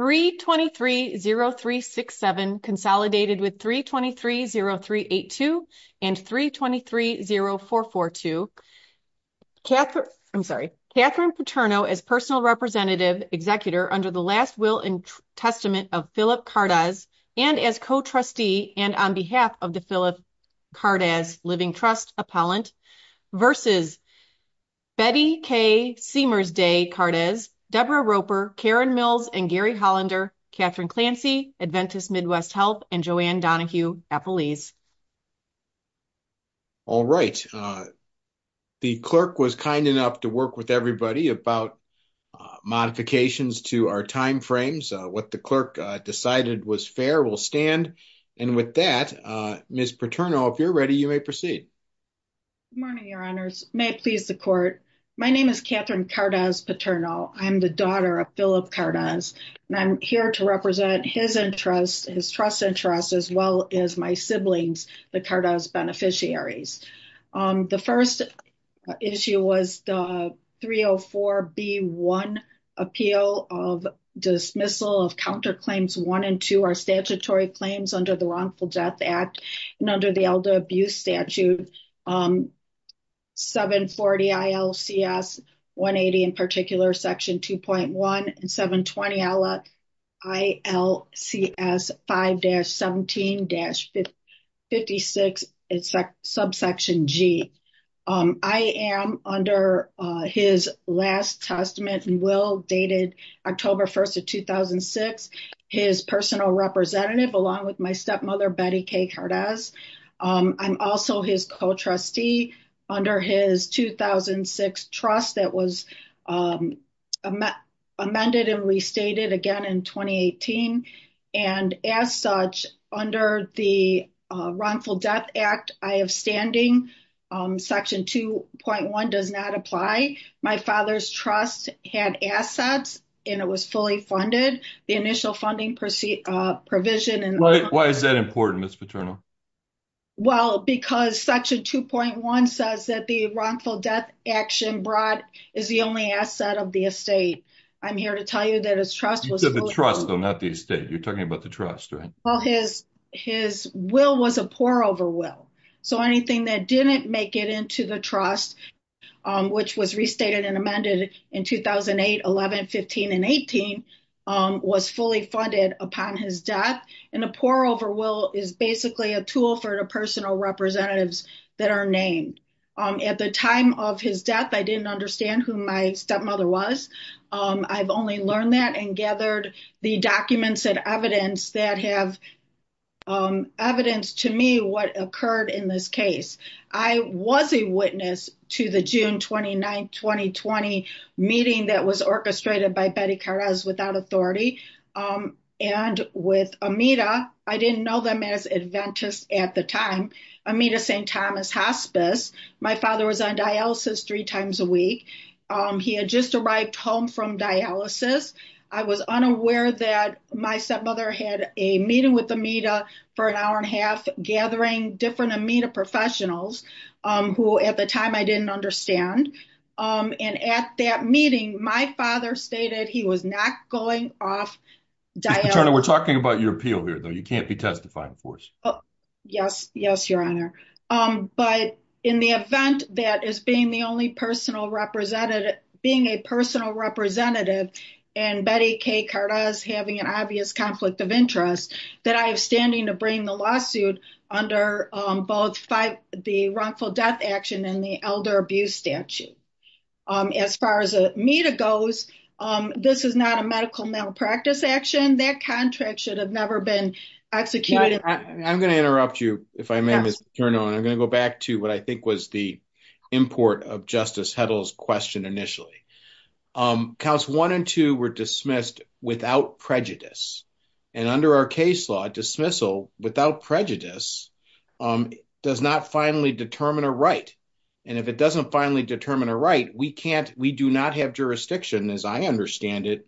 3230367 consolidated with 3230382 and 3230442 Catherine Paterno as personal representative executor under the last will and testament of Philip Kardasz and as co-trustee and on behalf of the Philip Kardasz Living Trust Appellant v. Betty K. Seamer's Day Kardasz, Deborah Roper, Karen Mills, and Gary Hollander, Catherine Clancy, Adventist Midwest Health, and Joanne Donahue Appellees. All right. The clerk was kind enough to work with everybody about modifications to our time frames. What the clerk decided was fair will stand. And with that, Ms. Paterno, if you're ready, you may proceed. Good morning, your honors. May it please the court. My name is Catherine Kardasz Paterno. I'm the daughter of Philip Kardasz. And I'm here to represent his interest, his trust interest, as well as my siblings, the Kardasz beneficiaries. The first issue was the 304B1 appeal of dismissal of counterclaims one and two are statutory claims under the wrongful death act. And under the elder abuse statute, 740 ILCS 180, in particular, section 2.1 and 720 ILCS 5-17-56, subsection G. I am under his last testament and will dated October 1st of 2006. His personal representative along with my stepmother, Betty K Kardasz. I'm also his co-trustee under his 2006 trust that was amended and restated again in 2018. And as such, under the wrongful death act, I have standing section 2.1 does not apply. My father's trust had assets, and it was fully funded. The initial funding proceed provision. Why is that important, Ms. Paterno? Well, because section 2.1 says that the wrongful death action brought is the only asset of the estate. I'm here to tell you that his trust was the trust, not the estate. You're talking about the trust, right? Well, his will was a poor over will. So anything that didn't make it into the trust, which was restated and amended in 2008, 11, 15, and 18, was fully funded upon his death. And a poor over will is basically a tool for the personal representatives that are named. At the time of his death, I didn't understand who my stepmother was. I've only learned that and gathered the documents and evidence that have evidence to me what occurred in this case. I was a witness to the June 29, 2020 meeting that was orchestrated by Betty Carras without authority. And with Amita, I didn't know them as Adventists at the time, Amita St. Thomas Hospice. My father was on dialysis three times a week. He had just arrived home from dialysis. I was unaware that my stepmother had a meeting with Amita for an hour and a half gathering different Amita professionals, who at the time I didn't understand. And at that meeting, my father stated he was not going off dialysis. Ms. Paterno, we're talking about your appeal here, though. You can't be testifying for us. Yes. Yes, Your Honor. But in the event that as being the only personal representative, being a personal representative, and Betty K. Carras having an obvious conflict of interest, that I am standing to bring the lawsuit under both the wrongful death action and the elder abuse statute. As far as Amita goes, this is not a medical malpractice action. That contract should never have been executed. I'm going to interrupt you if I may, Ms. Paterno. I'm going to go back to what I think was the import of Justice Hedl's question initially. Counts one and two were dismissed without prejudice. And under our case law, dismissal without prejudice does not finally determine a right. And if it doesn't finally determine a right, we do not have jurisdiction, as I understand it,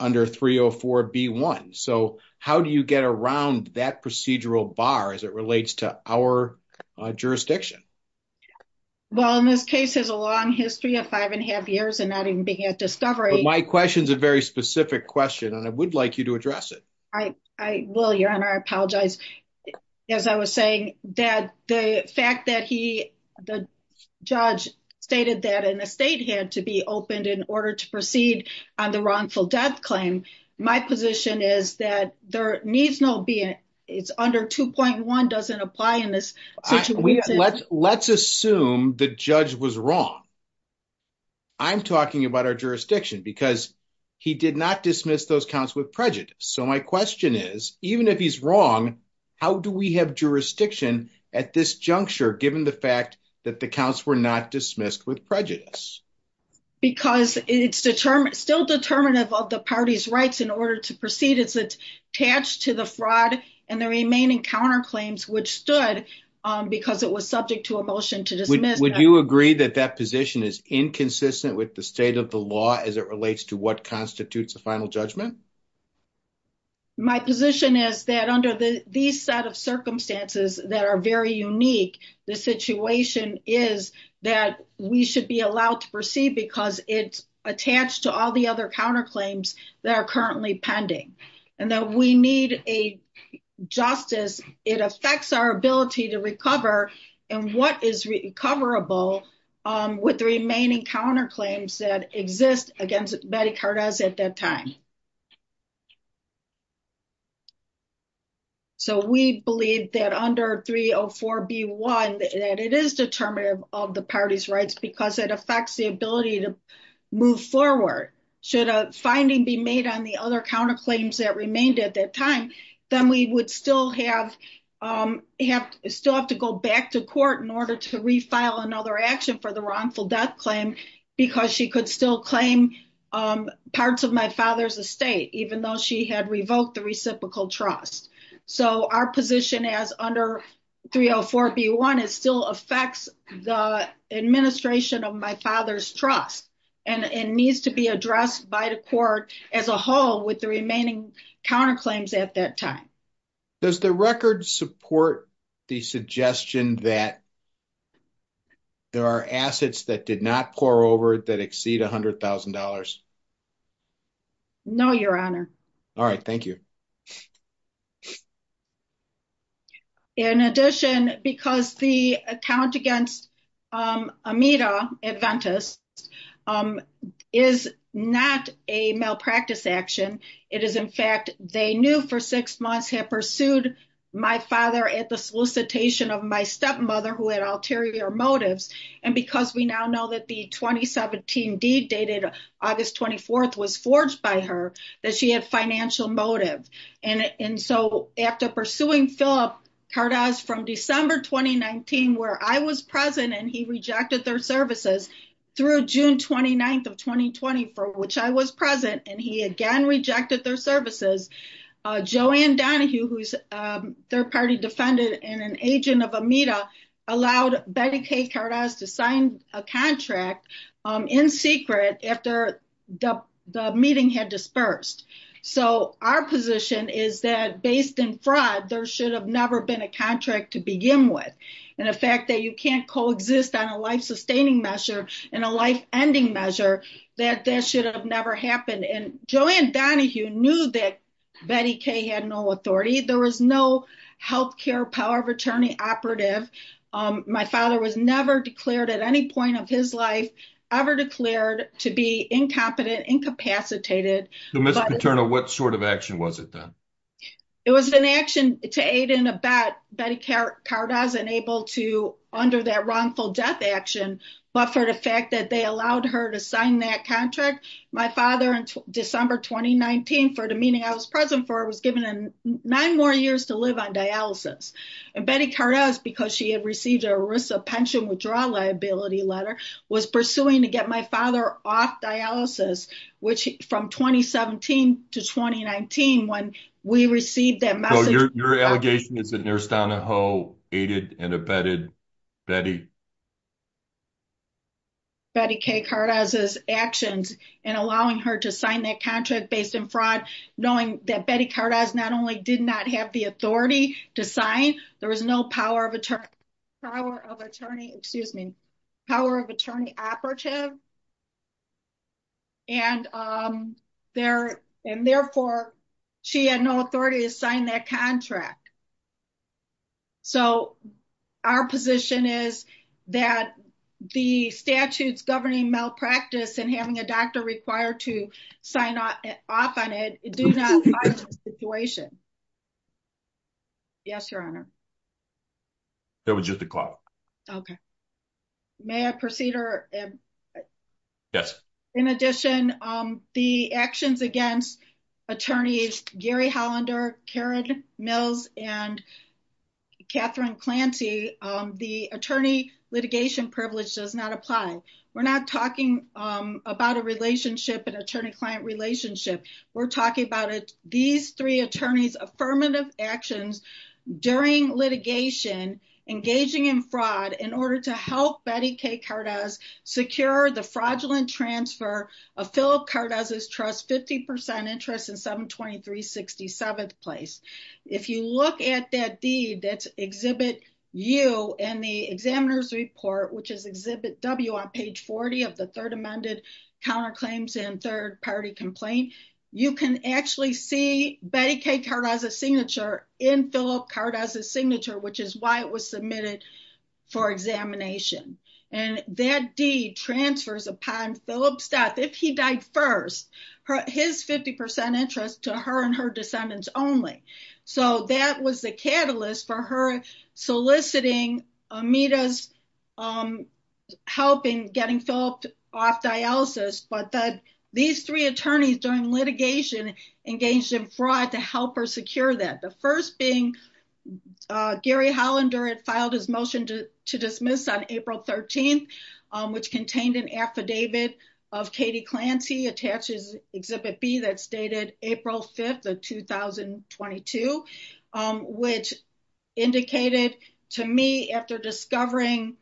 under 304B1. So how do you get around that procedural bar as it relates to our jurisdiction? Well, in this case, there's a long history of five and a half years and not even being at discovery. My question is a very specific question, and I would like you to address it. I will, Your Honor. I apologize. As I was saying, the fact that the judge stated that an open state had to be opened in order to proceed on the wrongful death claim, my position is that there needs not be, it's under 2.1, doesn't apply in this situation. Let's assume the judge was wrong. I'm talking about our jurisdiction because he did not dismiss those counts with prejudice. So my question is, even if he's wrong, how do we have jurisdiction at this juncture given the fact that the counts were not dismissed with prejudice? Because it's still determinative of the party's rights in order to proceed. It's attached to the fraud and the remaining counterclaims which stood because it was subject to a motion to dismiss. Would you agree that that position is inconsistent with the state of the law as it relates to what constitutes a final judgment? My position is that under these set of circumstances that are very unique, the situation is that we should be allowed to proceed because it's attached to all the other counterclaims that are currently pending and that we need a justice. It affects our ability to recover and what is recoverable with the remaining counterclaims that exist against Betty Cardez at that time. So we believe that under 304B1 that it is determinative of the party's rights because it affects the ability to move forward. Should a finding be made on the other counterclaims that remained at that time, then we would still have to go back to court in order to file another action for the wrongful death claim because she could still claim parts of my father's estate even though she had revoked the reciprocal trust. So our position as under 304B1 still affects the administration of my father's trust and needs to be addressed by the court as a whole with the remaining counterclaims at that time. Does the record support the suggestion that there are assets that did not pour over that exceed a hundred thousand dollars? No, your honor. All right, thank you. In addition, because the account against Amita Adventist is not a malpractice action, it is in fact they knew for six months had pursued my father at the solicitation of my stepmother who had ulterior motives and because we now know that the 2017 deed dated August 24th was forged by her that she had financial motive. And so after pursuing Philip Cardoz from December 2019 where I was present and he rejected their services through June 29th of 2020 for which I was present and he again rejected their services, Joanne Donahue who's a third party defendant and an Amita allowed Betty K Cardoz to sign a contract in secret after the meeting had dispersed. So our position is that based in fraud there should have never been a contract to begin with and the fact that you can't coexist on a life-sustaining measure and a life-ending measure that that should have never happened and Joanne Donahue knew that Betty K had no authority. There was no health care power of attorney operative. My father was never declared at any point of his life ever declared to be incompetent, incapacitated. Ms. Paterno, what sort of action was it then? It was an action to aid in a bet Betty K Cardoz enabled to under that wrongful death action but for the fact that they allowed her to sign that contract my father in December 2019 for the meeting I was present for was given nine more years to live on dialysis and Betty Cardoz because she had received a risk of pension withdrawal liability letter was pursuing to get my father off dialysis which from 2017 to 2019 when we received that message. Your allegation is that Nurse Donahue aided and abetted Betty K Cardoz's actions in allowing her to sign that contract based in fraud knowing that Betty Cardoz not only did not have the authority to sign there was no power of attorney excuse me power of attorney operative and therefore she had no authority to sign that contract so our position is that the statutes governing malpractice and having a doctor required to sign off on it do not find this situation. Yes your honor. That was just a call. Okay may I proceed or yes in addition um the actions against attorneys Gary Hollander, Karen Mills, and Catherine Clancy um the attorney litigation privilege does not apply we're not talking um about a relationship an attorney-client relationship we're talking about it these three attorneys affirmative actions during litigation engaging in fraud in order to help Betty K Cardoz secure the fraudulent transfer of Philip Cardoz's trust 50 percent interest in 723 67th place. If you look at that deed that's exhibit U in the examiner's report which is exhibit W on page 40 of the third amended counterclaims and third party complaint you can actually see Betty K Cardoz's signature in Philip Cardoz's signature which is why it was submitted for examination and that deed transfers upon Philip's death if he died first his 50 percent interest to her and her descendants only so that was the catalyst for her soliciting Amita's um helping getting Philip off dialysis but that these three attorneys during litigation engaged in fraud to help her secure that the first being uh Gary Hollander had filed his motion to to dismiss on 13th um which contained an affidavit of Katie Clancy attaches exhibit B that stated April 5th of 2022 um which indicated to me after discovering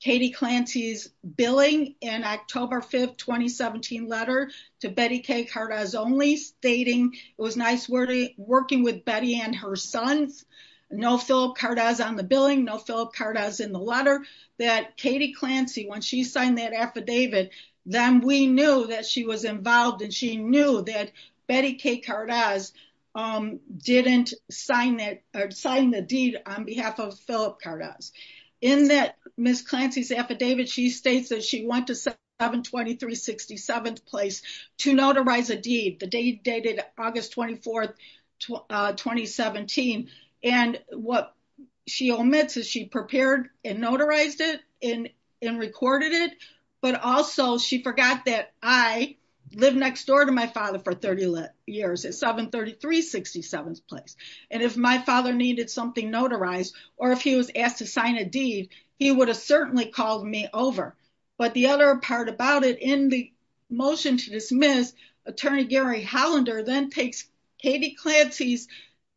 Katie Clancy's billing in October 5th 2017 letter to Betty K Cardoz only stating it was nice wording working with Betty and her sons no Philip Cardoz on the billing no Philip Cardoz in the letter that Katie Clancy when she signed that affidavit then we knew that she was involved and she knew that Betty K Cardoz um didn't sign that or sign the deed on behalf of Philip Cardoz in that Miss Clancy's affidavit she states that went to 723 67th place to notarize a deed the date dated August 24th uh 2017 and what she omits is she prepared and notarized it in and recorded it but also she forgot that I lived next door to my father for 30 years at 733 67th place and if my father needed something notarized or if he was to sign a deed he would have certainly called me over but the other part about it in the motion to dismiss attorney Gary Hollander then takes Katie Clancy's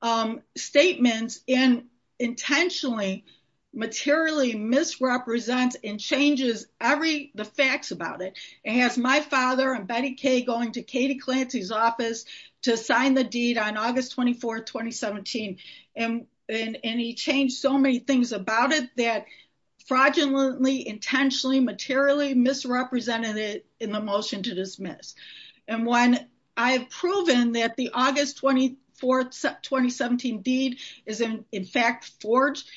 um statements and intentionally materially misrepresents and changes every the facts about it and has my father and Betty K going to Katie Clancy's office to sign the deed on August 24th 2017 and and and he changed so many things about it that fraudulently intentionally materially misrepresented it in the motion to dismiss and when I have proven that the August 24th 2017 deed is in in fact forged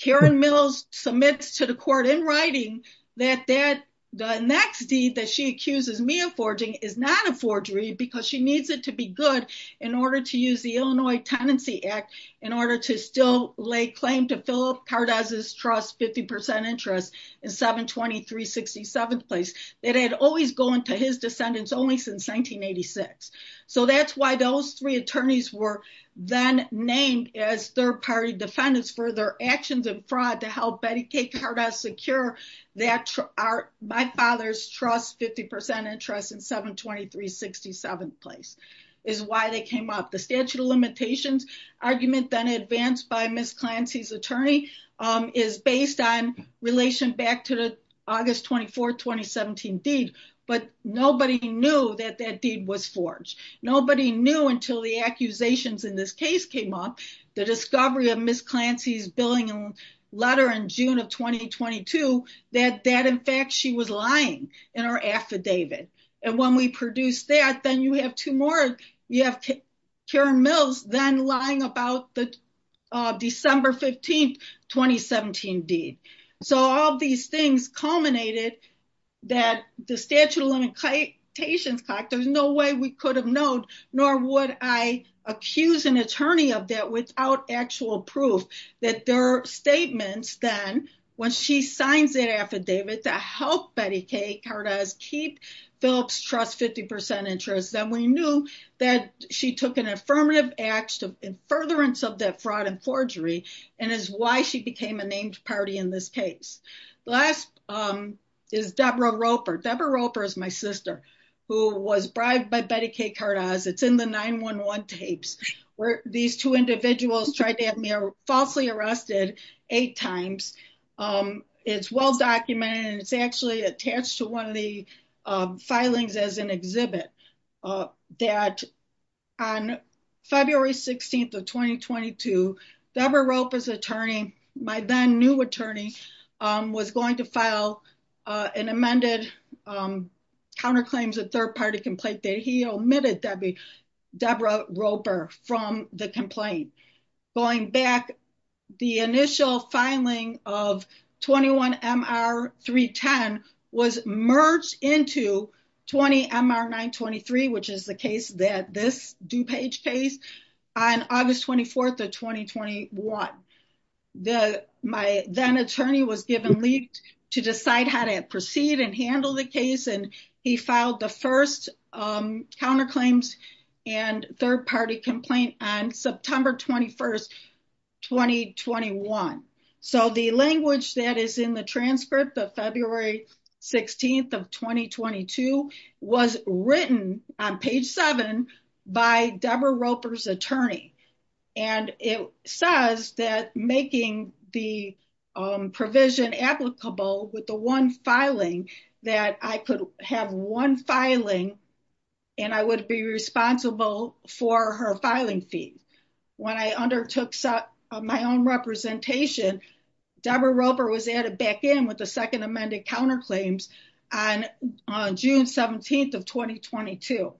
Karen Mills submits to the court in writing that that the next deed that she accuses me of forging is not a forgery because she needs it to be good in order to use the Illinois Tenancy Act in order to still lay claim to Philip Cardoz's trust 50 percent interest in 723 67th place that had always gone to his descendants only since 1986 so that's why those three attorneys were then named as third party defendants for their actions and fraud to help Betty K Cardoz secure that are my father's trust 50 percent interest in 723 67th place is why they came up the statute of limitations argument then advanced by Miss Clancy's attorney is based on relation back to the August 24th 2017 deed but nobody knew that that deed was forged nobody knew until the accusations in this case came up the discovery of Miss Clancy's billing letter in June of 2022 that that in fact she was lying in her affidavit and when we produced that then you have two more you have Karen Mills then about the December 15th 2017 deed so all these things culminated that the statute of limitations clock there's no way we could have known nor would I accuse an attorney of that without actual proof that their statements then when she signs that affidavit to help Betty K Cardoz keep Phillips trust 50 percent interest then we knew that she took an affirmative act in furtherance of that fraud and forgery and is why she became a named party in this case last is Deborah Roper Deborah Roper is my sister who was bribed by Betty K Cardoz it's in the 9-1-1 tapes where these two individuals tried to have me falsely arrested eight times it's well documented it's actually attached to one of the filings as an exhibit that on February 16th of 2022 Deborah Roper's attorney my then new attorney was going to file an amended counterclaims a third party complaint that he omitted Debbie Deborah Roper from the complaint going back the initial filing of 21 MR 310 was merged into 20 MR 923 which is the case that this DuPage case on August 24th of 2021 the my then attorney was given leave to decide how to proceed and handle the case and he filed the first counterclaims and third party complaint on September 21st 2021 so the language that is in the transcript of February 16th of 2022 was written on page 7 by Deborah Roper's attorney and it says that making the provision applicable with the one filing that I could have one filing and I would be responsible for her filing fee when I undertook my own representation Deborah Roper was added back in with the second amended counterclaims on on June 17th of 2022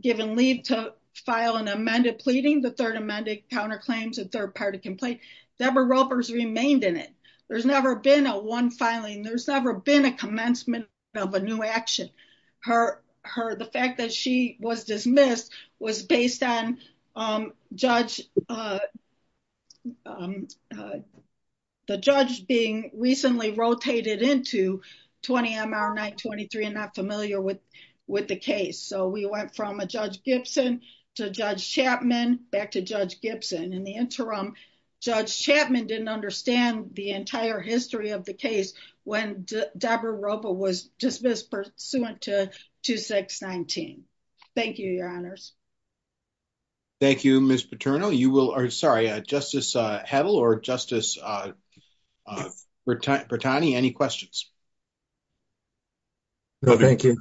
giving leave to file an amended pleading the third amended counterclaims a third party complaint Deborah Roper's remained in it there's never been a one filing there's never been a commencement of a new action her her the fact that she was missed was based on um judge uh um the judge being recently rotated into 20 MR 923 and not familiar with with the case so we went from a Judge Gibson to Judge Chapman back to Judge Gibson in the interim Judge Chapman didn't understand the entire history of the case when Deborah Roper was dismissed pursuant to 2619 thank you your honors thank you Miss Paterno you will or sorry uh Justice uh Heddle or Justice uh uh Bertani any questions no thank you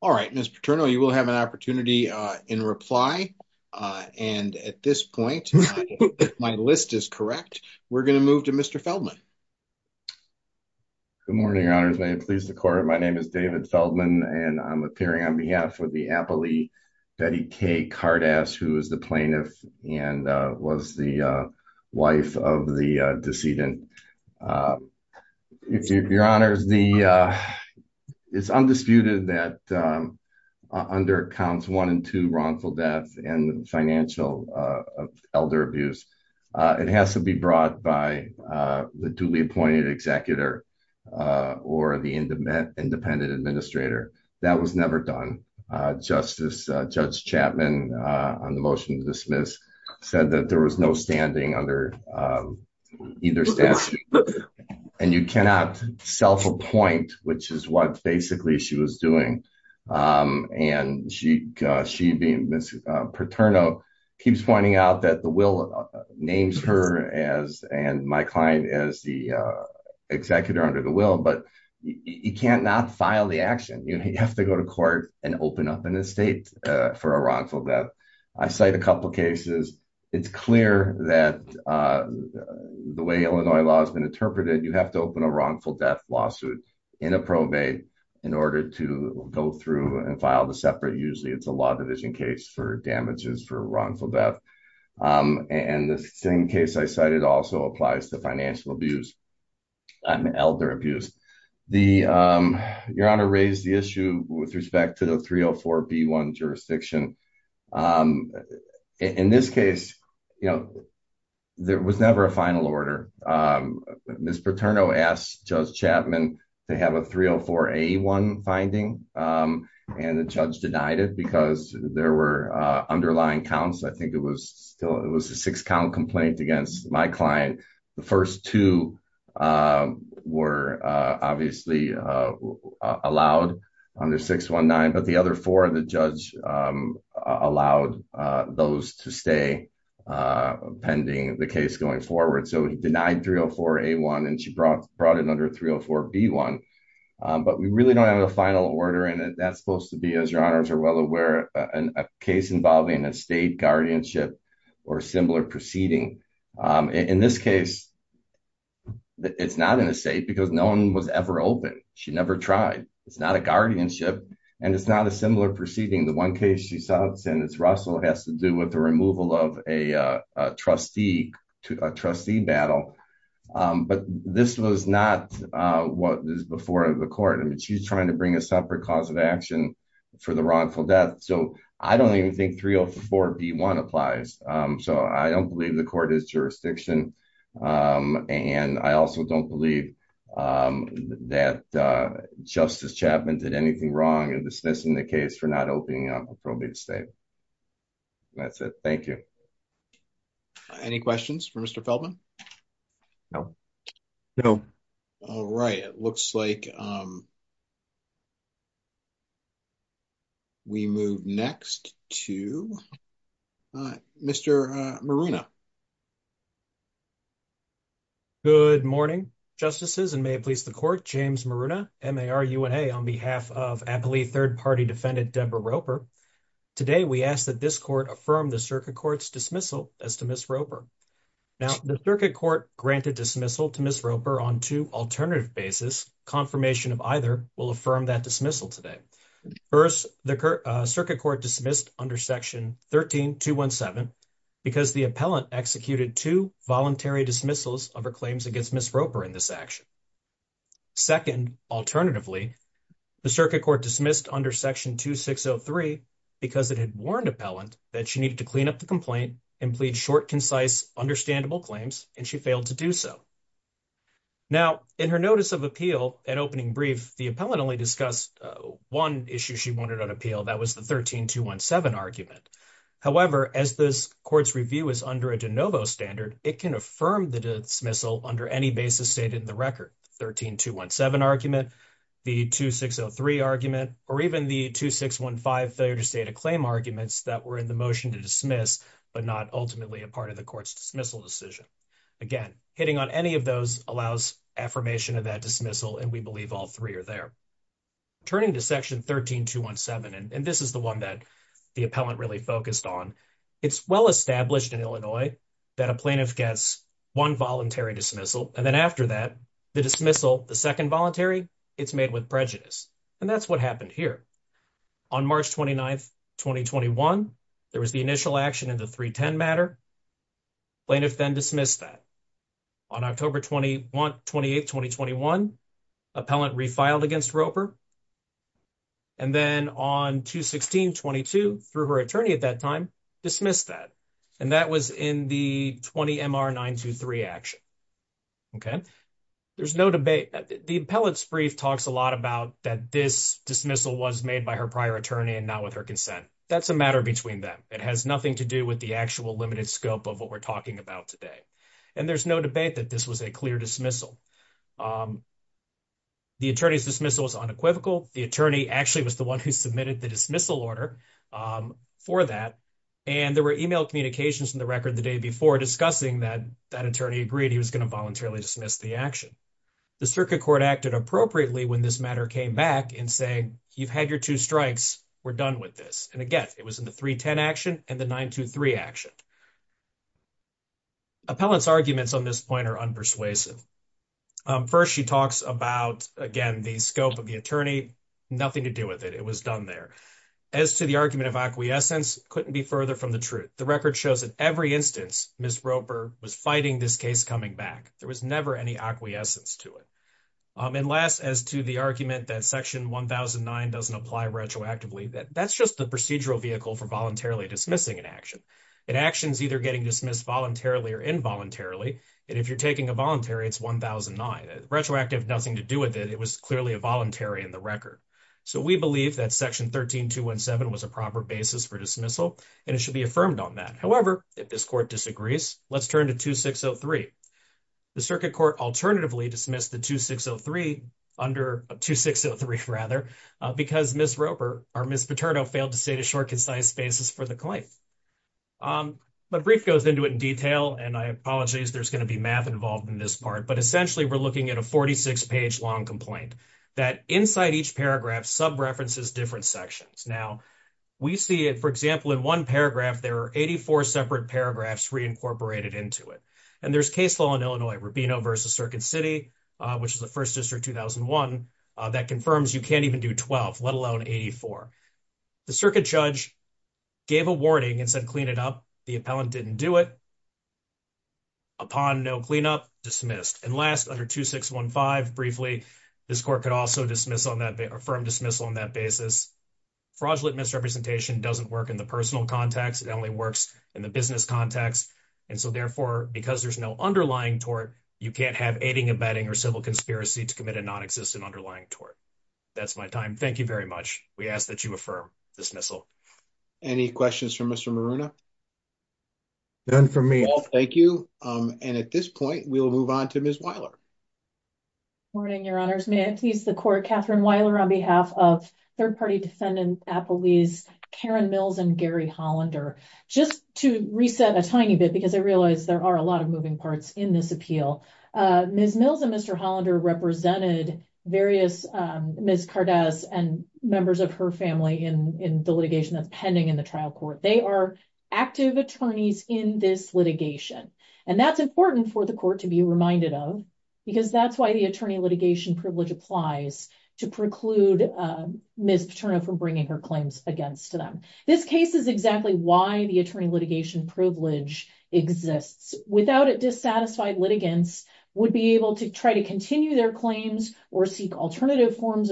all right Miss Paterno you will have an opportunity uh in reply uh and at this point my list is correct we're going to move to Mr. Feldman good morning your honors may it please the court my name is David Feldman and I'm appearing on behalf of the appellee Betty K Cardass who is the plaintiff and uh was the uh wife of the uh decedent uh if your honors the uh it's undisputed that under counts one and two wrongful death and financial uh elder abuse uh it has to be brought by uh the duly appointed executor uh or the independent administrator that was never done uh Justice uh Judge Chapman uh on the motion to dismiss said that there was no standing under um either statute and you cannot self-appoint which is what basically she was doing um and she she being Miss Paterno keeps pointing out that the will names her as and my client as the uh executor under the will but you can't not file the action you have to go to court and open up an for a wrongful death I cite a couple cases it's clear that uh the way Illinois law has been interpreted you have to open a wrongful death lawsuit in a probate in order to go through and file the separate usually it's a law division case for damages for wrongful death um and the same case I cited also applies to financial abuse and elder abuse the um your honor raised the issue with respect to the 304 b1 jurisdiction um in this case you know there was never a final order um Miss Paterno asked Judge Chapman to have a 304 a1 finding um and the judge denied it because there were uh underlying counts I think it was still it was a six count complaint against my the first two um were uh obviously uh allowed under 619 but the other four of the judge um allowed uh those to stay uh pending the case going forward so he denied 304 a1 and she brought brought it under 304 b1 but we really don't have a final order in it that's supposed to be as your this case it's not in the state because no one was ever open she never tried it's not a guardianship and it's not a similar proceeding the one case she saw it's in it's Russell has to do with the removal of a uh trustee to a trustee battle um but this was not uh what is before the court I mean she's trying to bring a separate cause of action for the wrongful death so I don't even think 304 b1 applies um so I don't believe the court is jurisdiction um and I also don't believe um that uh Justice Chapman did anything wrong in dismissing the case for not opening up appropriate state that's it thank you any questions for Mr. Feldman no no all right it looks like um um we move next to uh Mr. uh Maruna good morning justices and may it please the court James Maruna MARUNA on behalf of Appalooie third party defendant Debra Roper today we ask that this court affirm the circuit court's dismissal as to Miss Roper now the circuit court granted dismissal to Miss Roper on two alternative basis confirmation of either will affirm that dismissal today first the circuit court dismissed under section 13 217 because the appellant executed two voluntary dismissals of her claims against Miss Roper in this action second alternatively the circuit court dismissed under section 2603 because it had warned appellant that she needed to clean up the complaint and plead short concise understandable claims and she failed to do so now in her notice of appeal at opening brief the appellant only discussed one issue she wanted on appeal that was the 13 217 argument however as this court's review is under a de novo standard it can affirm the dismissal under any basis stated in the record 13 217 argument the 2603 argument or even the 2615 failure to state a claim arguments that were in the motion to dismiss but not ultimately a part of the court's dismissal decision again hitting on any of those allows affirmation of that dismissal and we believe all three are there turning to section 13 217 and this is the one that the appellant really focused on it's well established in Illinois that a plaintiff gets one voluntary dismissal and then after that the dismissal the second voluntary it's made with prejudice and that's what happened here on march 29th 2021 there was the initial action in the 310 matter plaintiff then dismissed that on october 21 28 2021 appellant refiled against roper and then on 216 22 through her attorney at that time dismissed that and that was in the 20 mr 923 action okay there's no debate the appellant's brief talks a lot about that this dismissal was made by her prior attorney and not with her consent that's a matter between them it has nothing to do with the actual limited scope of what we're talking about today and there's no debate that this was a clear dismissal the attorney's dismissal was unequivocal the attorney actually was the one who submitted the dismissal order for that and there were email communications in the record the day before discussing that that attorney agreed he was going to voluntarily dismiss the action the circuit court acted appropriately when this matter came back and saying you've had your two strikes we're done with this and again it was in the 310 action and the 923 action appellants arguments on this point are unpersuasive first she talks about again the scope of the attorney nothing to do with it it was done there as to the argument of acquiescence couldn't be further from the truth the record shows that every instance miss roper was fighting this case coming back there was never any acquiescence to it and last as to the argument that section 1009 doesn't apply retroactively that that's just the procedural vehicle for voluntarily dismissing an action an action's either getting dismissed voluntarily or involuntarily and if you're taking a voluntary it's 1009 retroactive nothing to do with it it was clearly a voluntary in the record so we believe that section 13 217 was a proper basis for dismissal it should be affirmed on that however if this court disagrees let's turn to 2603 the circuit court alternatively dismissed the 2603 under 2603 rather because miss roper or miss paterno failed to state a short concise basis for the claim um but brief goes into it in detail and i apologize there's going to be math involved in this part but essentially we're looking at a 46 page long complaint that inside each paragraph sub-references different sections now we see it for example in one paragraph there are 84 separate paragraphs reincorporated into it and there's case law in illinois rubino versus circuit city uh which is the first district 2001 that confirms you can't even do 12 let alone 84 the circuit judge gave a warning and said clean it up the appellant didn't do it upon no cleanup dismissed and last under 2615 briefly this court could also dismiss on that affirmed dismissal on that basis fraudulent misrepresentation doesn't work in the personal context it only works in the business context and so therefore because there's no underlying tort you can't have aiding abetting or civil conspiracy to commit a non-existent underlying tort that's my time thank you very much we ask that you affirm dismissal any questions for mr maruna none for me thank you um and at this point we'll move on to ms weiler good morning your honors may i please the court katherine weiler on behalf of third-party defendant appellees karen mills and gary hollander just to reset a tiny bit because i realize there are a lot of moving parts in this appeal uh ms mills and mr hollander represented various um ms cardez and members of her family in in the litigation that's pending in the trial court they are active attorneys in this litigation and that's important for the court to be reminded of because that's why the attorney litigation privilege applies to preclude uh ms paterna from bringing her claims against them this case is exactly why the attorney litigation privilege exists without a dissatisfied litigants would be able to try to continue their claims or seek alternative forms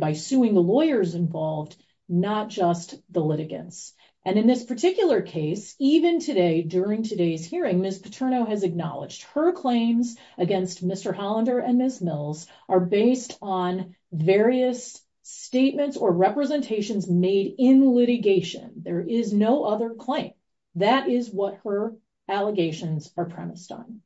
by suing the lawyers involved not just the litigants and in this particular case even today during today's hearing ms paterno has acknowledged her claims against mr hollander and ms mills are based on various statements or representations made in litigation there is no other claim that is what her allegations are premised on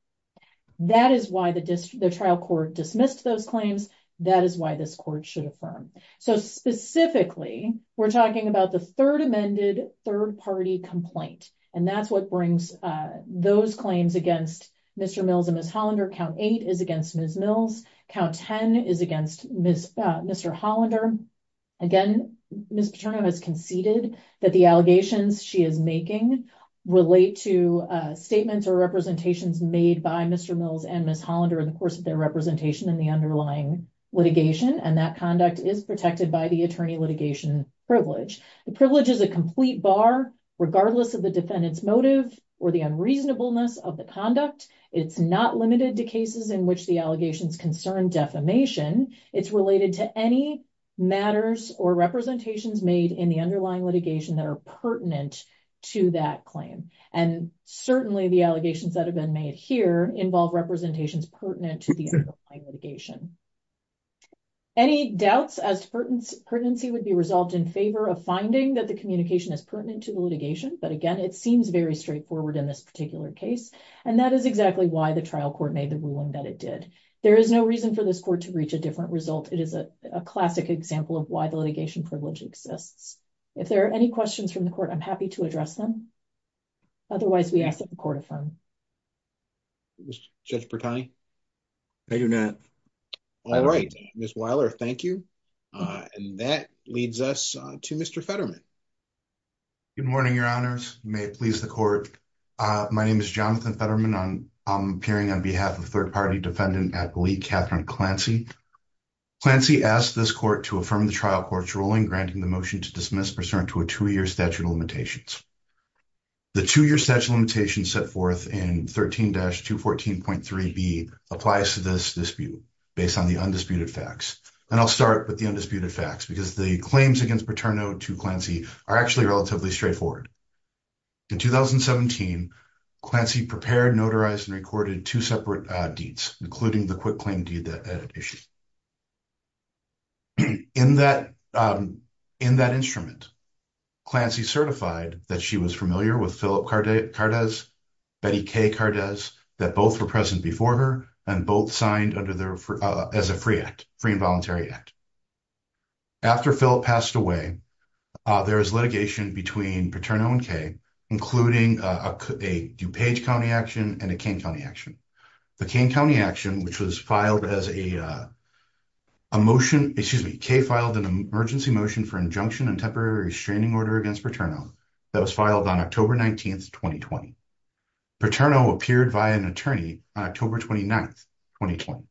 that is why the district the trial court dismissed those claims that is why this court should affirm so specifically we're talking about the third amended third party complaint and that's what brings uh those claims against mr mills and ms hollander count eight is against ms mills count 10 is against ms uh mr hollander again ms paterna has conceded that the allegations she is making relate to uh statements or made by mr mills and ms hollander in the course of their representation in the underlying litigation and that conduct is protected by the attorney litigation privilege the privilege is a complete bar regardless of the defendant's motive or the unreasonableness of the conduct it's not limited to cases in which the allegations concern defamation it's related to any matters or representations made in the underlying litigation that are pertinent to that claim and certainly the allegations that have been made here involve representations pertinent to the underlying litigation any doubts as to pertinence pertinency would be resolved in favor of finding that the communication is pertinent to the litigation but again it seems very straightforward in this particular case and that is exactly why the trial court made the ruling that it did there is no reason for this court to reach a different result it is a classic example of why the litigation privilege exists if there are any questions from the court i'm happy to address them otherwise we ask that the court affirm judge pertine thank you net all right miss weiler thank you uh and that leads us to mr fetterman good morning your honors may it please the court uh my name is jonathan fetterman on i'm appearing on behalf of third party defendant athlete catherine clancy clancy asked this court to affirm the trial court's ruling granting the to a two-year statute of limitations the two-year statute limitation set forth in 13-214.3 b applies to this dispute based on the undisputed facts and i'll start with the undisputed facts because the claims against paterno to clancy are actually relatively straightforward in 2017 clancy prepared notarized and recorded two separate uh deeds including the quick claim deed that added issue in that um in that instrument clancy certified that she was familiar with philip cardez betty k cardez that both were present before her and both signed under their uh as a free act free involuntary act after philip passed away uh there is litigation between paterno and k including a dupage county action and a kane county action the kane county action which was filed as a uh a motion excuse me k filed an emergency motion for injunction and temporary restraining order against paterno that was filed on october 19th 2020 paterno appeared via an attorney on october 29th 2020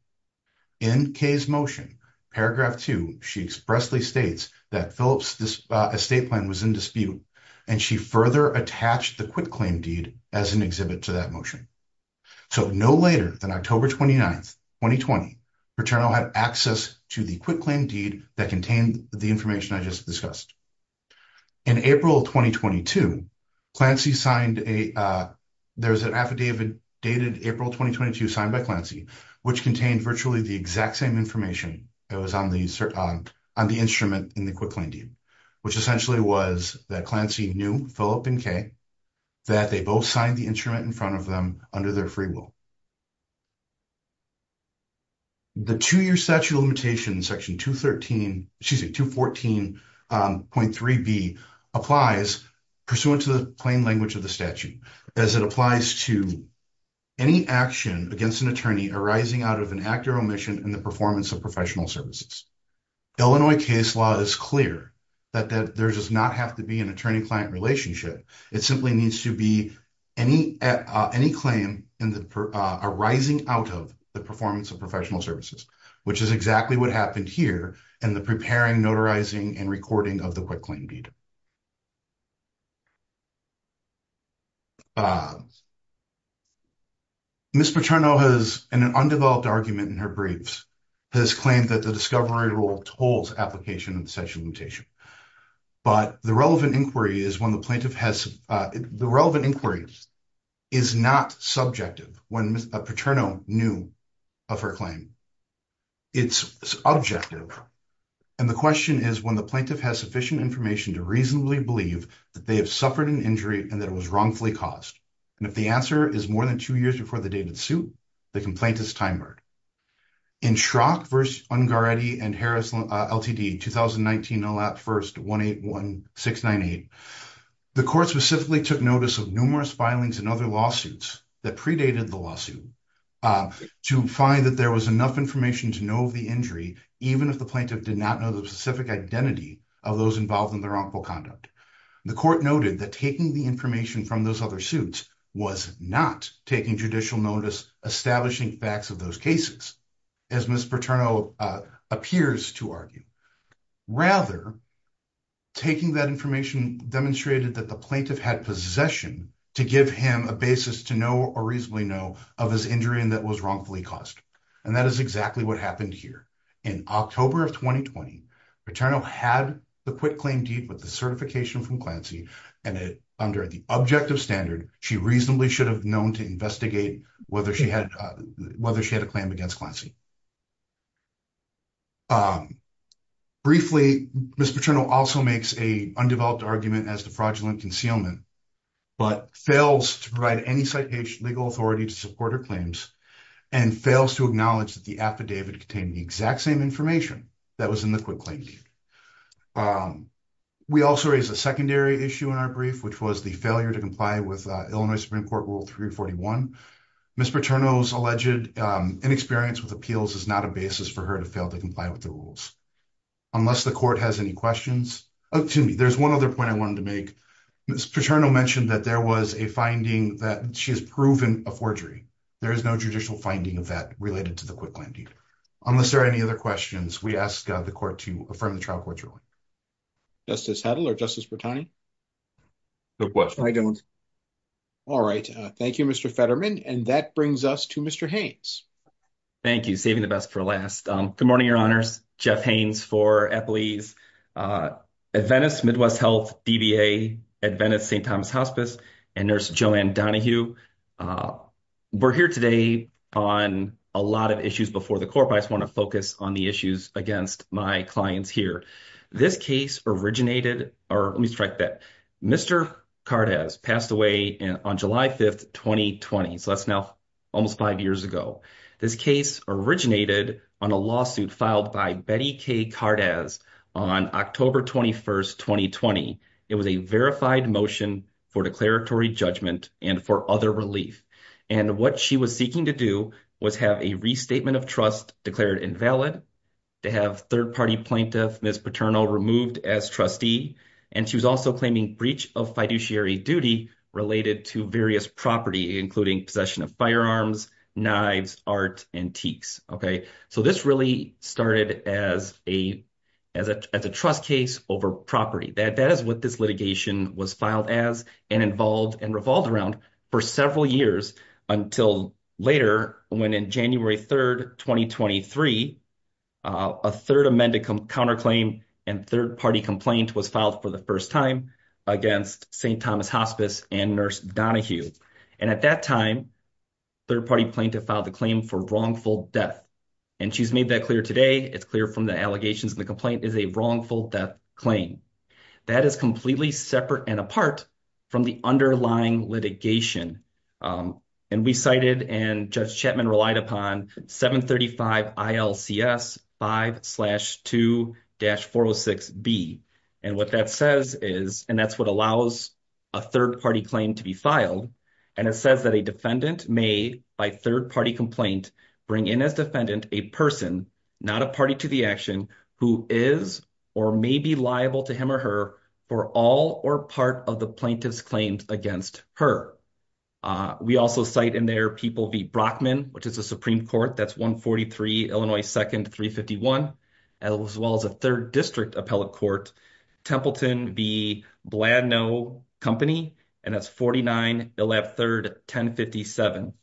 in k's motion paragraph 2 she expressly states that philips this estate plan was in dispute and she further attached the quick claim deed as an exhibit to that motion so no later than october 29th 2020 paterno had access to the quick claim deed that contained the information i just discussed in april 2022 clancy signed a uh there's an affidavit dated april 2022 signed by clancy which contained virtually the exact same information it was on the on the instrument in the quick claim deed which essentially was that clancy knew philip and k that they both signed the instrument in front of them under their free will the two-year statute of limitations section 213 excuse me 214.3b applies pursuant to the plain language of the statute as it applies to any action against an attorney arising out of an act or omission in the performance of professional services illinois case law is clear that there does not have to be an attorney-client relationship it simply needs to be any uh any claim in the arising out of the performance of professional services which is exactly what happened here in the preparing notarizing and recording of the quick claim deed uh miss paterno has an undeveloped argument in her briefs has claimed that the discovery rule holds application of the sexual mutation but the relevant inquiry is when the plaintiff has uh the relevant inquiry is not subjective when a paterno knew of her claim it's objective and the question is when the plaintiff has sufficient information to reasonably believe that they have suffered an injury and that it was wrongfully caused and if the answer is more than two years before the dated suit the complaint is timered in schrock verse ungaretti and harris ltd 2019 alap first 181698 the court specifically took notice of numerous filings and other lawsuits that predated the lawsuit uh to find that there was enough information to know of the injury even if the plaintiff did not know the specific identity of those involved in the wrongful conduct the court noted that taking the information from those other suits was not taking judicial notice establishing facts of those cases as miss paterno appears to argue rather taking that information demonstrated that the plaintiff had possession to give him a basis to know or reasonably know of his injury and that was wrongfully caused and that is exactly what happened here in october of 2020 paterno had the quick claim deed with the certification from clancy and it under the objective standard she reasonably should have known to investigate whether she had whether she had a claim against clancy briefly miss paterno also makes a undeveloped argument as the fraudulent concealment but fails to provide any citation legal authority to support her claims and fails to acknowledge that the affidavit contained the exact same information that was in the quick claim we also raised a secondary issue in our brief which was the failure to comply with illinois supreme court rule 341 miss paterno's alleged inexperience with appeals is not a basis for her to fail to comply with the rules unless the court has any questions oh to me there's one other point i wanted to make miss paterno mentioned that there was a finding that she has proven a forgery there is no judicial finding of that related to the unless there are any other questions we ask the court to affirm the trial court ruling justice heddle or justice brettani good question i don't all right uh thank you mr fetterman and that brings us to mr haynes thank you saving the best for last um good morning your honors jeff haynes for employees uh at venice midwest health dba at venice st donahue uh we're here today on a lot of issues before the court i just want to focus on the issues against my clients here this case originated or let me strike that mr card has passed away on july 5th 2020 so that's now almost five years ago this case originated on a lawsuit filed by betty k card as on october 21st 2020 it was a verified motion for declaratory judgment and for other relief and what she was seeking to do was have a restatement of trust declared invalid to have third party plaintiff miss paternal removed as trustee and she was also claiming breach of fiduciary duty related to various property including possession of firearms knives art antiques okay so this really started as a as a as a trust case over property that that is what this litigation was filed as and involved and revolved around for several years until later when in january 3rd 2023 a third amended counterclaim and third party complaint was filed for the first time against st thomas hospice and nurse donahue and at that time third party plaintiff filed the claim for wrongful death and she's made that clear today it's clear from the allegations the complaint is a wrongful death claim that is completely separate and apart from the underlying litigation um and we cited and judge chapman relied upon 735 ilcs 5 2-406 b and what that says is and that's what allows a third party claim to be filed and it says that a defendant may by third party complaint bring in as defendant a person not a party to the action who is or may be liable to him or her for all or part of the plaintiff's claims against her uh we also cite in their people v brockman which is a supreme court that's 143 illinois second 351 as well as a third district appellate court templeton v bladno company and that's 49 they'll have third 10 57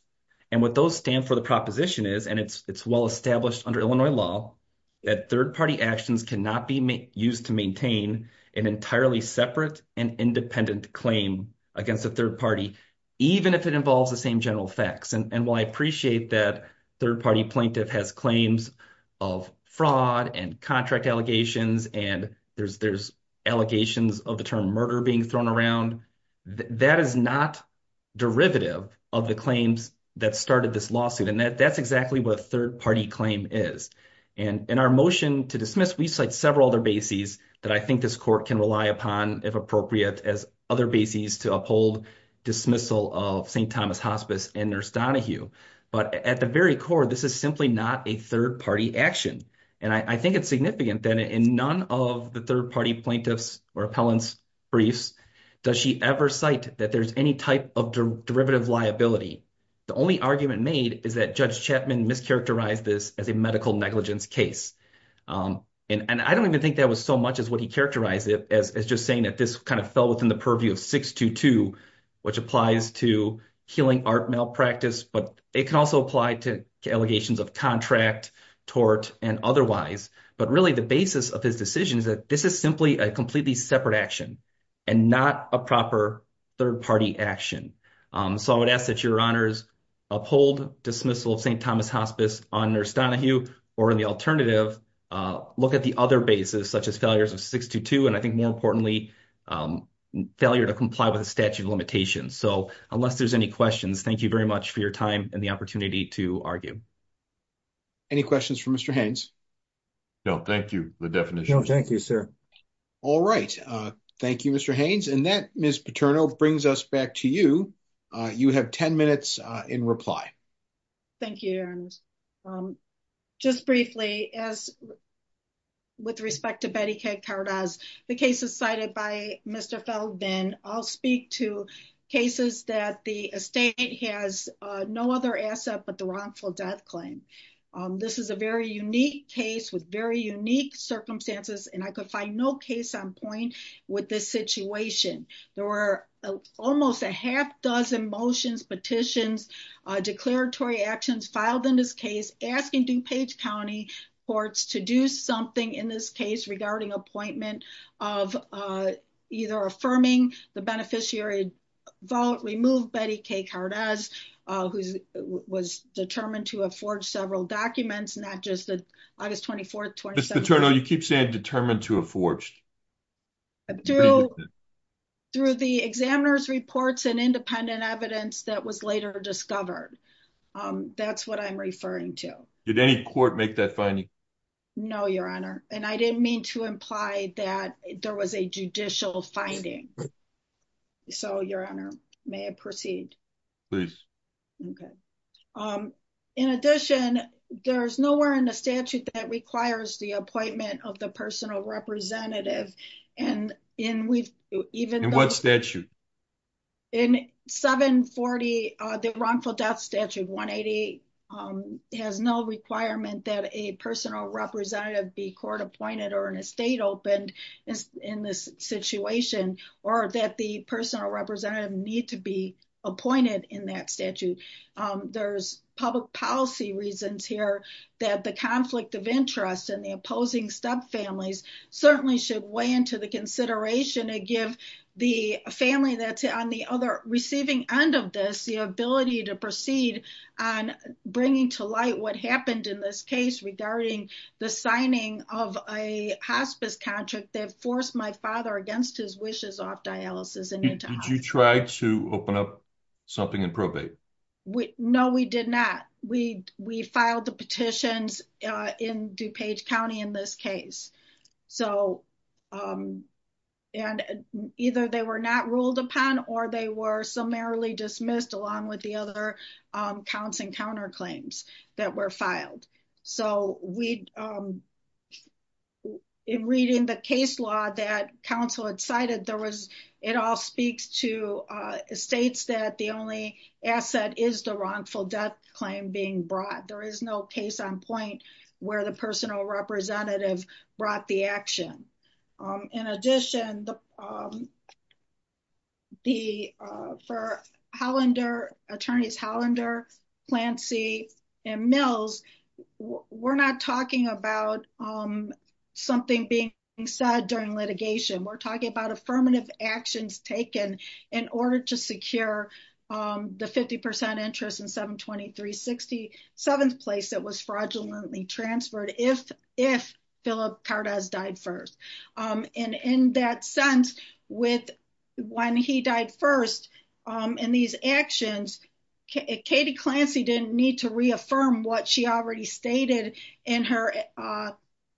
and what those stand for the proposition is and it's well established under illinois law that third party actions cannot be used to maintain an entirely separate and independent claim against the third party even if it involves the same general facts and while i appreciate that third party plaintiff has claims of fraud and contract allegations and there's there's allegations of the term murder being thrown around that is not derivative of the claims that started this lawsuit and that that's exactly what third party claim is and in our motion to dismiss we cite several other bases that i think this court can rely upon if appropriate as other bases to uphold dismissal of st thomas hospice and nurse donahue but at the very core this is simply not a third party action and i think it's significant in none of the third party plaintiffs or appellants briefs does she ever cite that there's any type of derivative liability the only argument made is that judge chapman mischaracterized this as a medical negligence case and i don't even think that was so much as what he characterized it as just saying that this kind of fell within the purview of 622 which applies to healing art malpractice but it can also apply to allegations of contract tort and otherwise but really the basis of his decision is that this is simply a completely separate action and not a proper third party action so i would ask that your honors uphold dismissal of st thomas hospice on nurse donahue or in the alternative uh look at the other basis such as failures of 622 and i think more importantly failure to comply with the statute of limitations so unless there's any questions thank you very much for your time and the opportunity to argue any questions for mr haynes no thank you the definition thank you sir all right uh thank you mr haynes and that miss paterno brings us back to you uh you have 10 minutes uh in reply thank you um just briefly as with respect to betty k cardoz the cases cited by mr feldman i'll speak to cases that the estate has no other asset but the wrongful death claim um this is a very unique case with very unique circumstances and i could find no case on point with this situation there were almost a half dozen motions petitions uh declaratory actions filed in this case asking dupage county courts to do something in this case regarding appointment of uh either affirming the beneficiary vote remove k cardoz uh who's was determined to afford several documents not just the august 24th you keep saying determined to have forged through the examiner's reports and independent evidence that was later discovered um that's what i'm referring to did any court make that finding no your honor and i didn't mean to imply that there was a judicial finding so your honor may i proceed please okay um in addition there's nowhere in the statute that requires the appointment of the personal representative and in we've even what statute in 740 uh the wrongful death statute 180 um has no requirement that a personal representative be court appointed or in is in this situation or that the personal representative need to be appointed in that statute um there's public policy reasons here that the conflict of interest and the opposing step families certainly should weigh into the consideration to give the family that's on the other receiving end of this the ability to proceed on bringing to light what happened in this case regarding the signing of a hospice contract that forced my father against his wishes off dialysis did you try to open up something in probate we no we did not we we filed the petitions uh in dupage county in this case so um and either they were not ruled upon or they were summarily dismissed along with the other um counts and counterclaims that were filed so we um in reading the case law that council had cited there was it all speaks to uh states that the only asset is the wrongful death claim being brought there is no case on point where the personal representative brought the action um in addition the um the uh for hollander attorneys hollander plant c and mills we're not talking about um something being said during litigation we're talking about affirmative actions taken in order to secure um the 50 interest in 723 67th place that was fraudulently transferred if if philip cardoz died first um and in that sense with when he died first um in these actions katie clancy didn't need to reaffirm what she already stated in her uh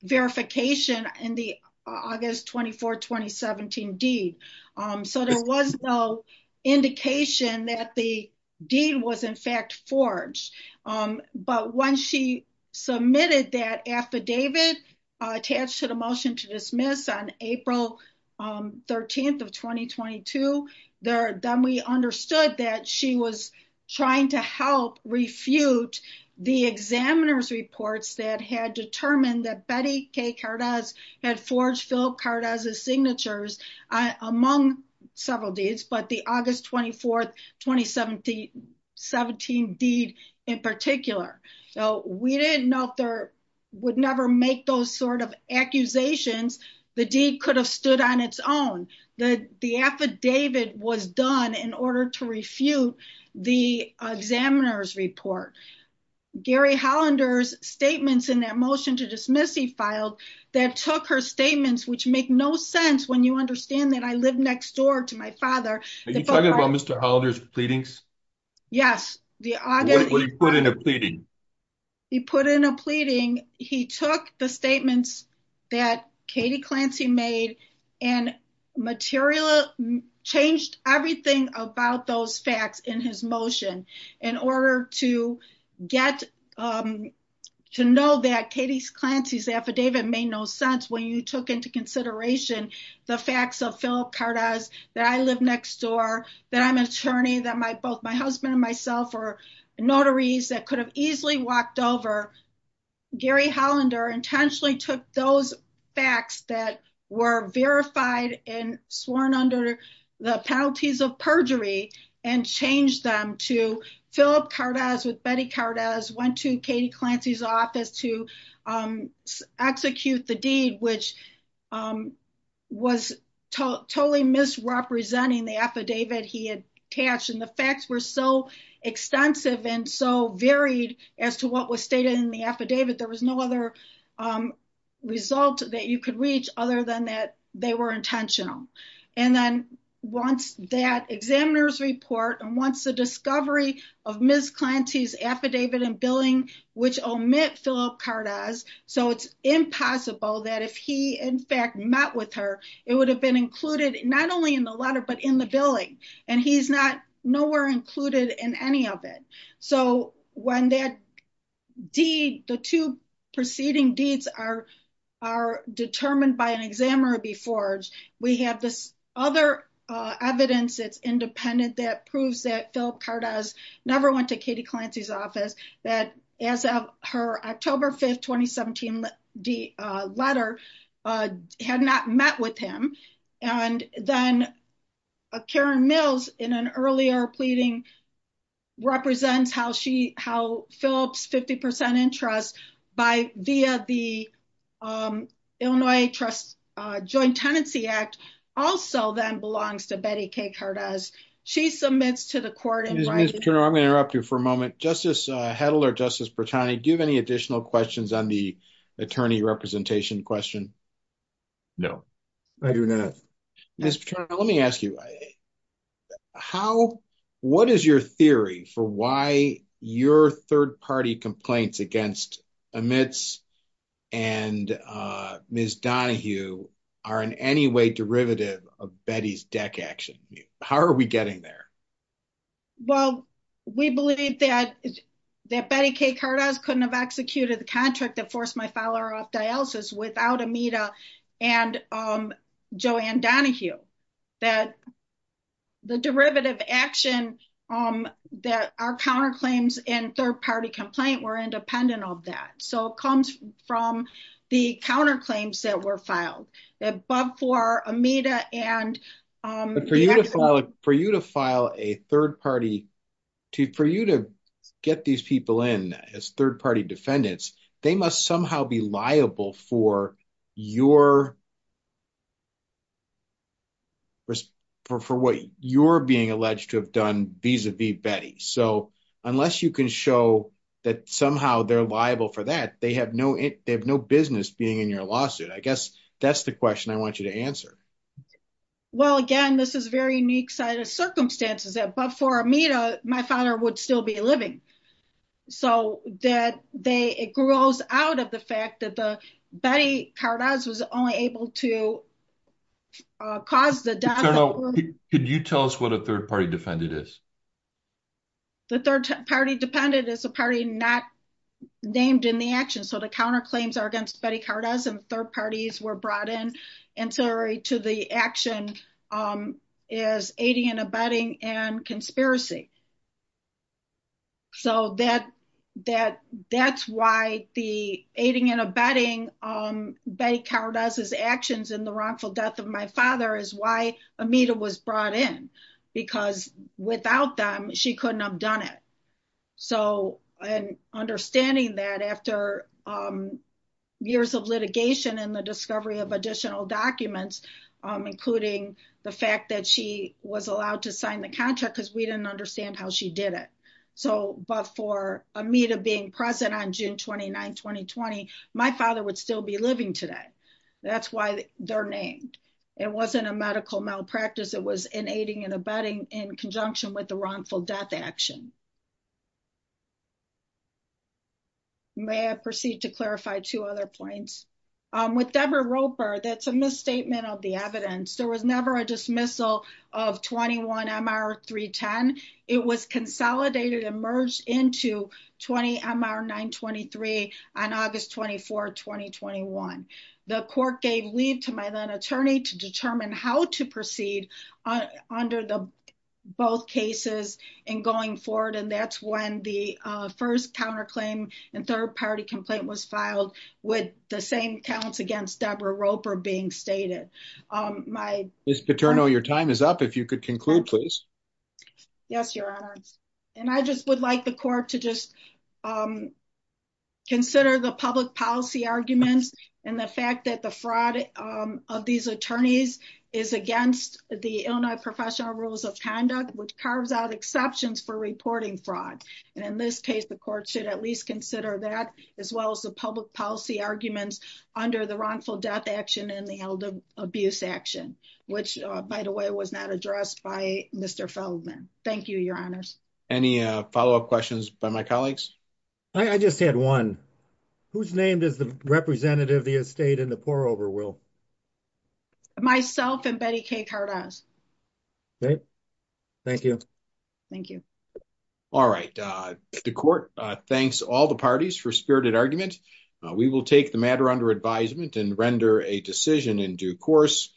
verification in the august 24 2017 deed um so there was no indication that the deed was in fact forged um but when she submitted that affidavit attached to the motion to dismiss on april um 13th of 2022 there then we understood that she was trying to help refute the examiner's reports that had determined that betty k cardoz had forged philip cardoz's signatures among several deeds but the august 24th 2017 deed in particular so we didn't know if there would never make those sort of accusations the deed could have stood on its own the the affidavit was done in order to refute the examiner's report gary hollander's statements in that motion to dismiss he filed that took her statements which make no sense when you understand that i live next door to my father are you talking about mr hollander's pleadings yes the august he put in a pleading he put in a pleading he took the statements that katie clancy made and materialized changed everything about those facts in his motion in order to get um to know that katie's clancy's affidavit made no sense when you took into consideration the facts of philip cardoz that i live next door that i'm an attorney that my both my husband and myself are notaries that could have easily walked over gary hollander intentionally took those facts that were verified and sworn under the penalties of perjury and changed them philip cardoz with betty cardoz went to katie clancy's office to um execute the deed which was totally misrepresenting the affidavit he had attached and the facts were so extensive and so varied as to what was stated in the affidavit there was no other um result that you could reach other than that they were intentional and then once that examiner's report and once the discovery of ms clancy's affidavit and billing which omit philip cardoz so it's impossible that if he in fact met with her it would have been included not only in the letter but in the billing and he's not nowhere included in any of it so when that deed the two preceding deeds are are determined by an examiner before we have this other uh evidence it's independent that proves that philip cardoz never went to katie clancy's office that as of her october 5th 2017 the uh letter uh had not met with him and then karen mills in an earlier pleading represents how she how philip's 50 interest by via the um illinois trust uh joint tenancy act also then belongs to betty k cardoz she submits to the court i'm going to interrupt you for a moment justice uh hedler justice pertani do you have any additional questions on the attorney representation question no i do not let me ask you how what is your theory for why your third party complaints against emits and uh ms donahue are in any way derivative of betty's deck action how are we getting there well we believe that that betty k cardoz couldn't have executed the contract that forced my follower off dialysis without amita and um joanne donahue that the derivative action um that our counterclaims and third party complaint were independent of that so it comes from the counterclaims that were filed above for amita and for you to file a third party to for you to get these people in as third party defendants they must somehow be liable for your for what you're being alleged to have done vis-a-vis betty so unless you can show that somehow they're liable for that they have no they have no business being in your lawsuit i guess that's the question i want you to answer well again this is very unique set of circumstances but for amita my father would still be living so that they it grows out of the fact that the betty cardoz was only able to cause the general could you tell us what a third party defendant is the third party dependent is a party not named in the action so the counterclaims are against betty cardoz and third parties were brought in ancillary to the action um is aiding and abetting and conspiracy so that that that's why the aiding and abetting um betty cardoz's actions in the wrongful death of my father is why amita was brought in because without them she couldn't have done it so and understanding that after um years of litigation and the that she was allowed to sign the contract because we didn't understand how she did it so but for amita being present on june 29 2020 my father would still be living today that's why they're named it wasn't a medical malpractice it was in aiding and abetting in conjunction with the wrongful death action may i proceed to clarify two other points um with deborah roper that's misstatement of the evidence there was never a dismissal of 21 mr 310 it was consolidated and merged into 20 mr 923 on august 24 2021 the court gave leave to my then attorney to determine how to proceed under the both cases and going forward and that's when the first counterclaim and third party complaint was filed with the same counts against deborah roper being stated my this paterno your time is up if you could conclude please yes your honor and i just would like the court to just um consider the public policy arguments and the fact that the fraud of these attorneys is against the illinois professional rules of conduct which carves exceptions for reporting fraud and in this case the court should at least consider that as well as the public policy arguments under the wrongful death action and the elder abuse action which by the way was not addressed by mr feldman thank you your honors any uh follow-up questions by my colleagues i just had one whose name is the representative of the estate in the thank you all right uh the court uh thanks all the parties for spirited argument we will take the matter under advisement and render a decision in due course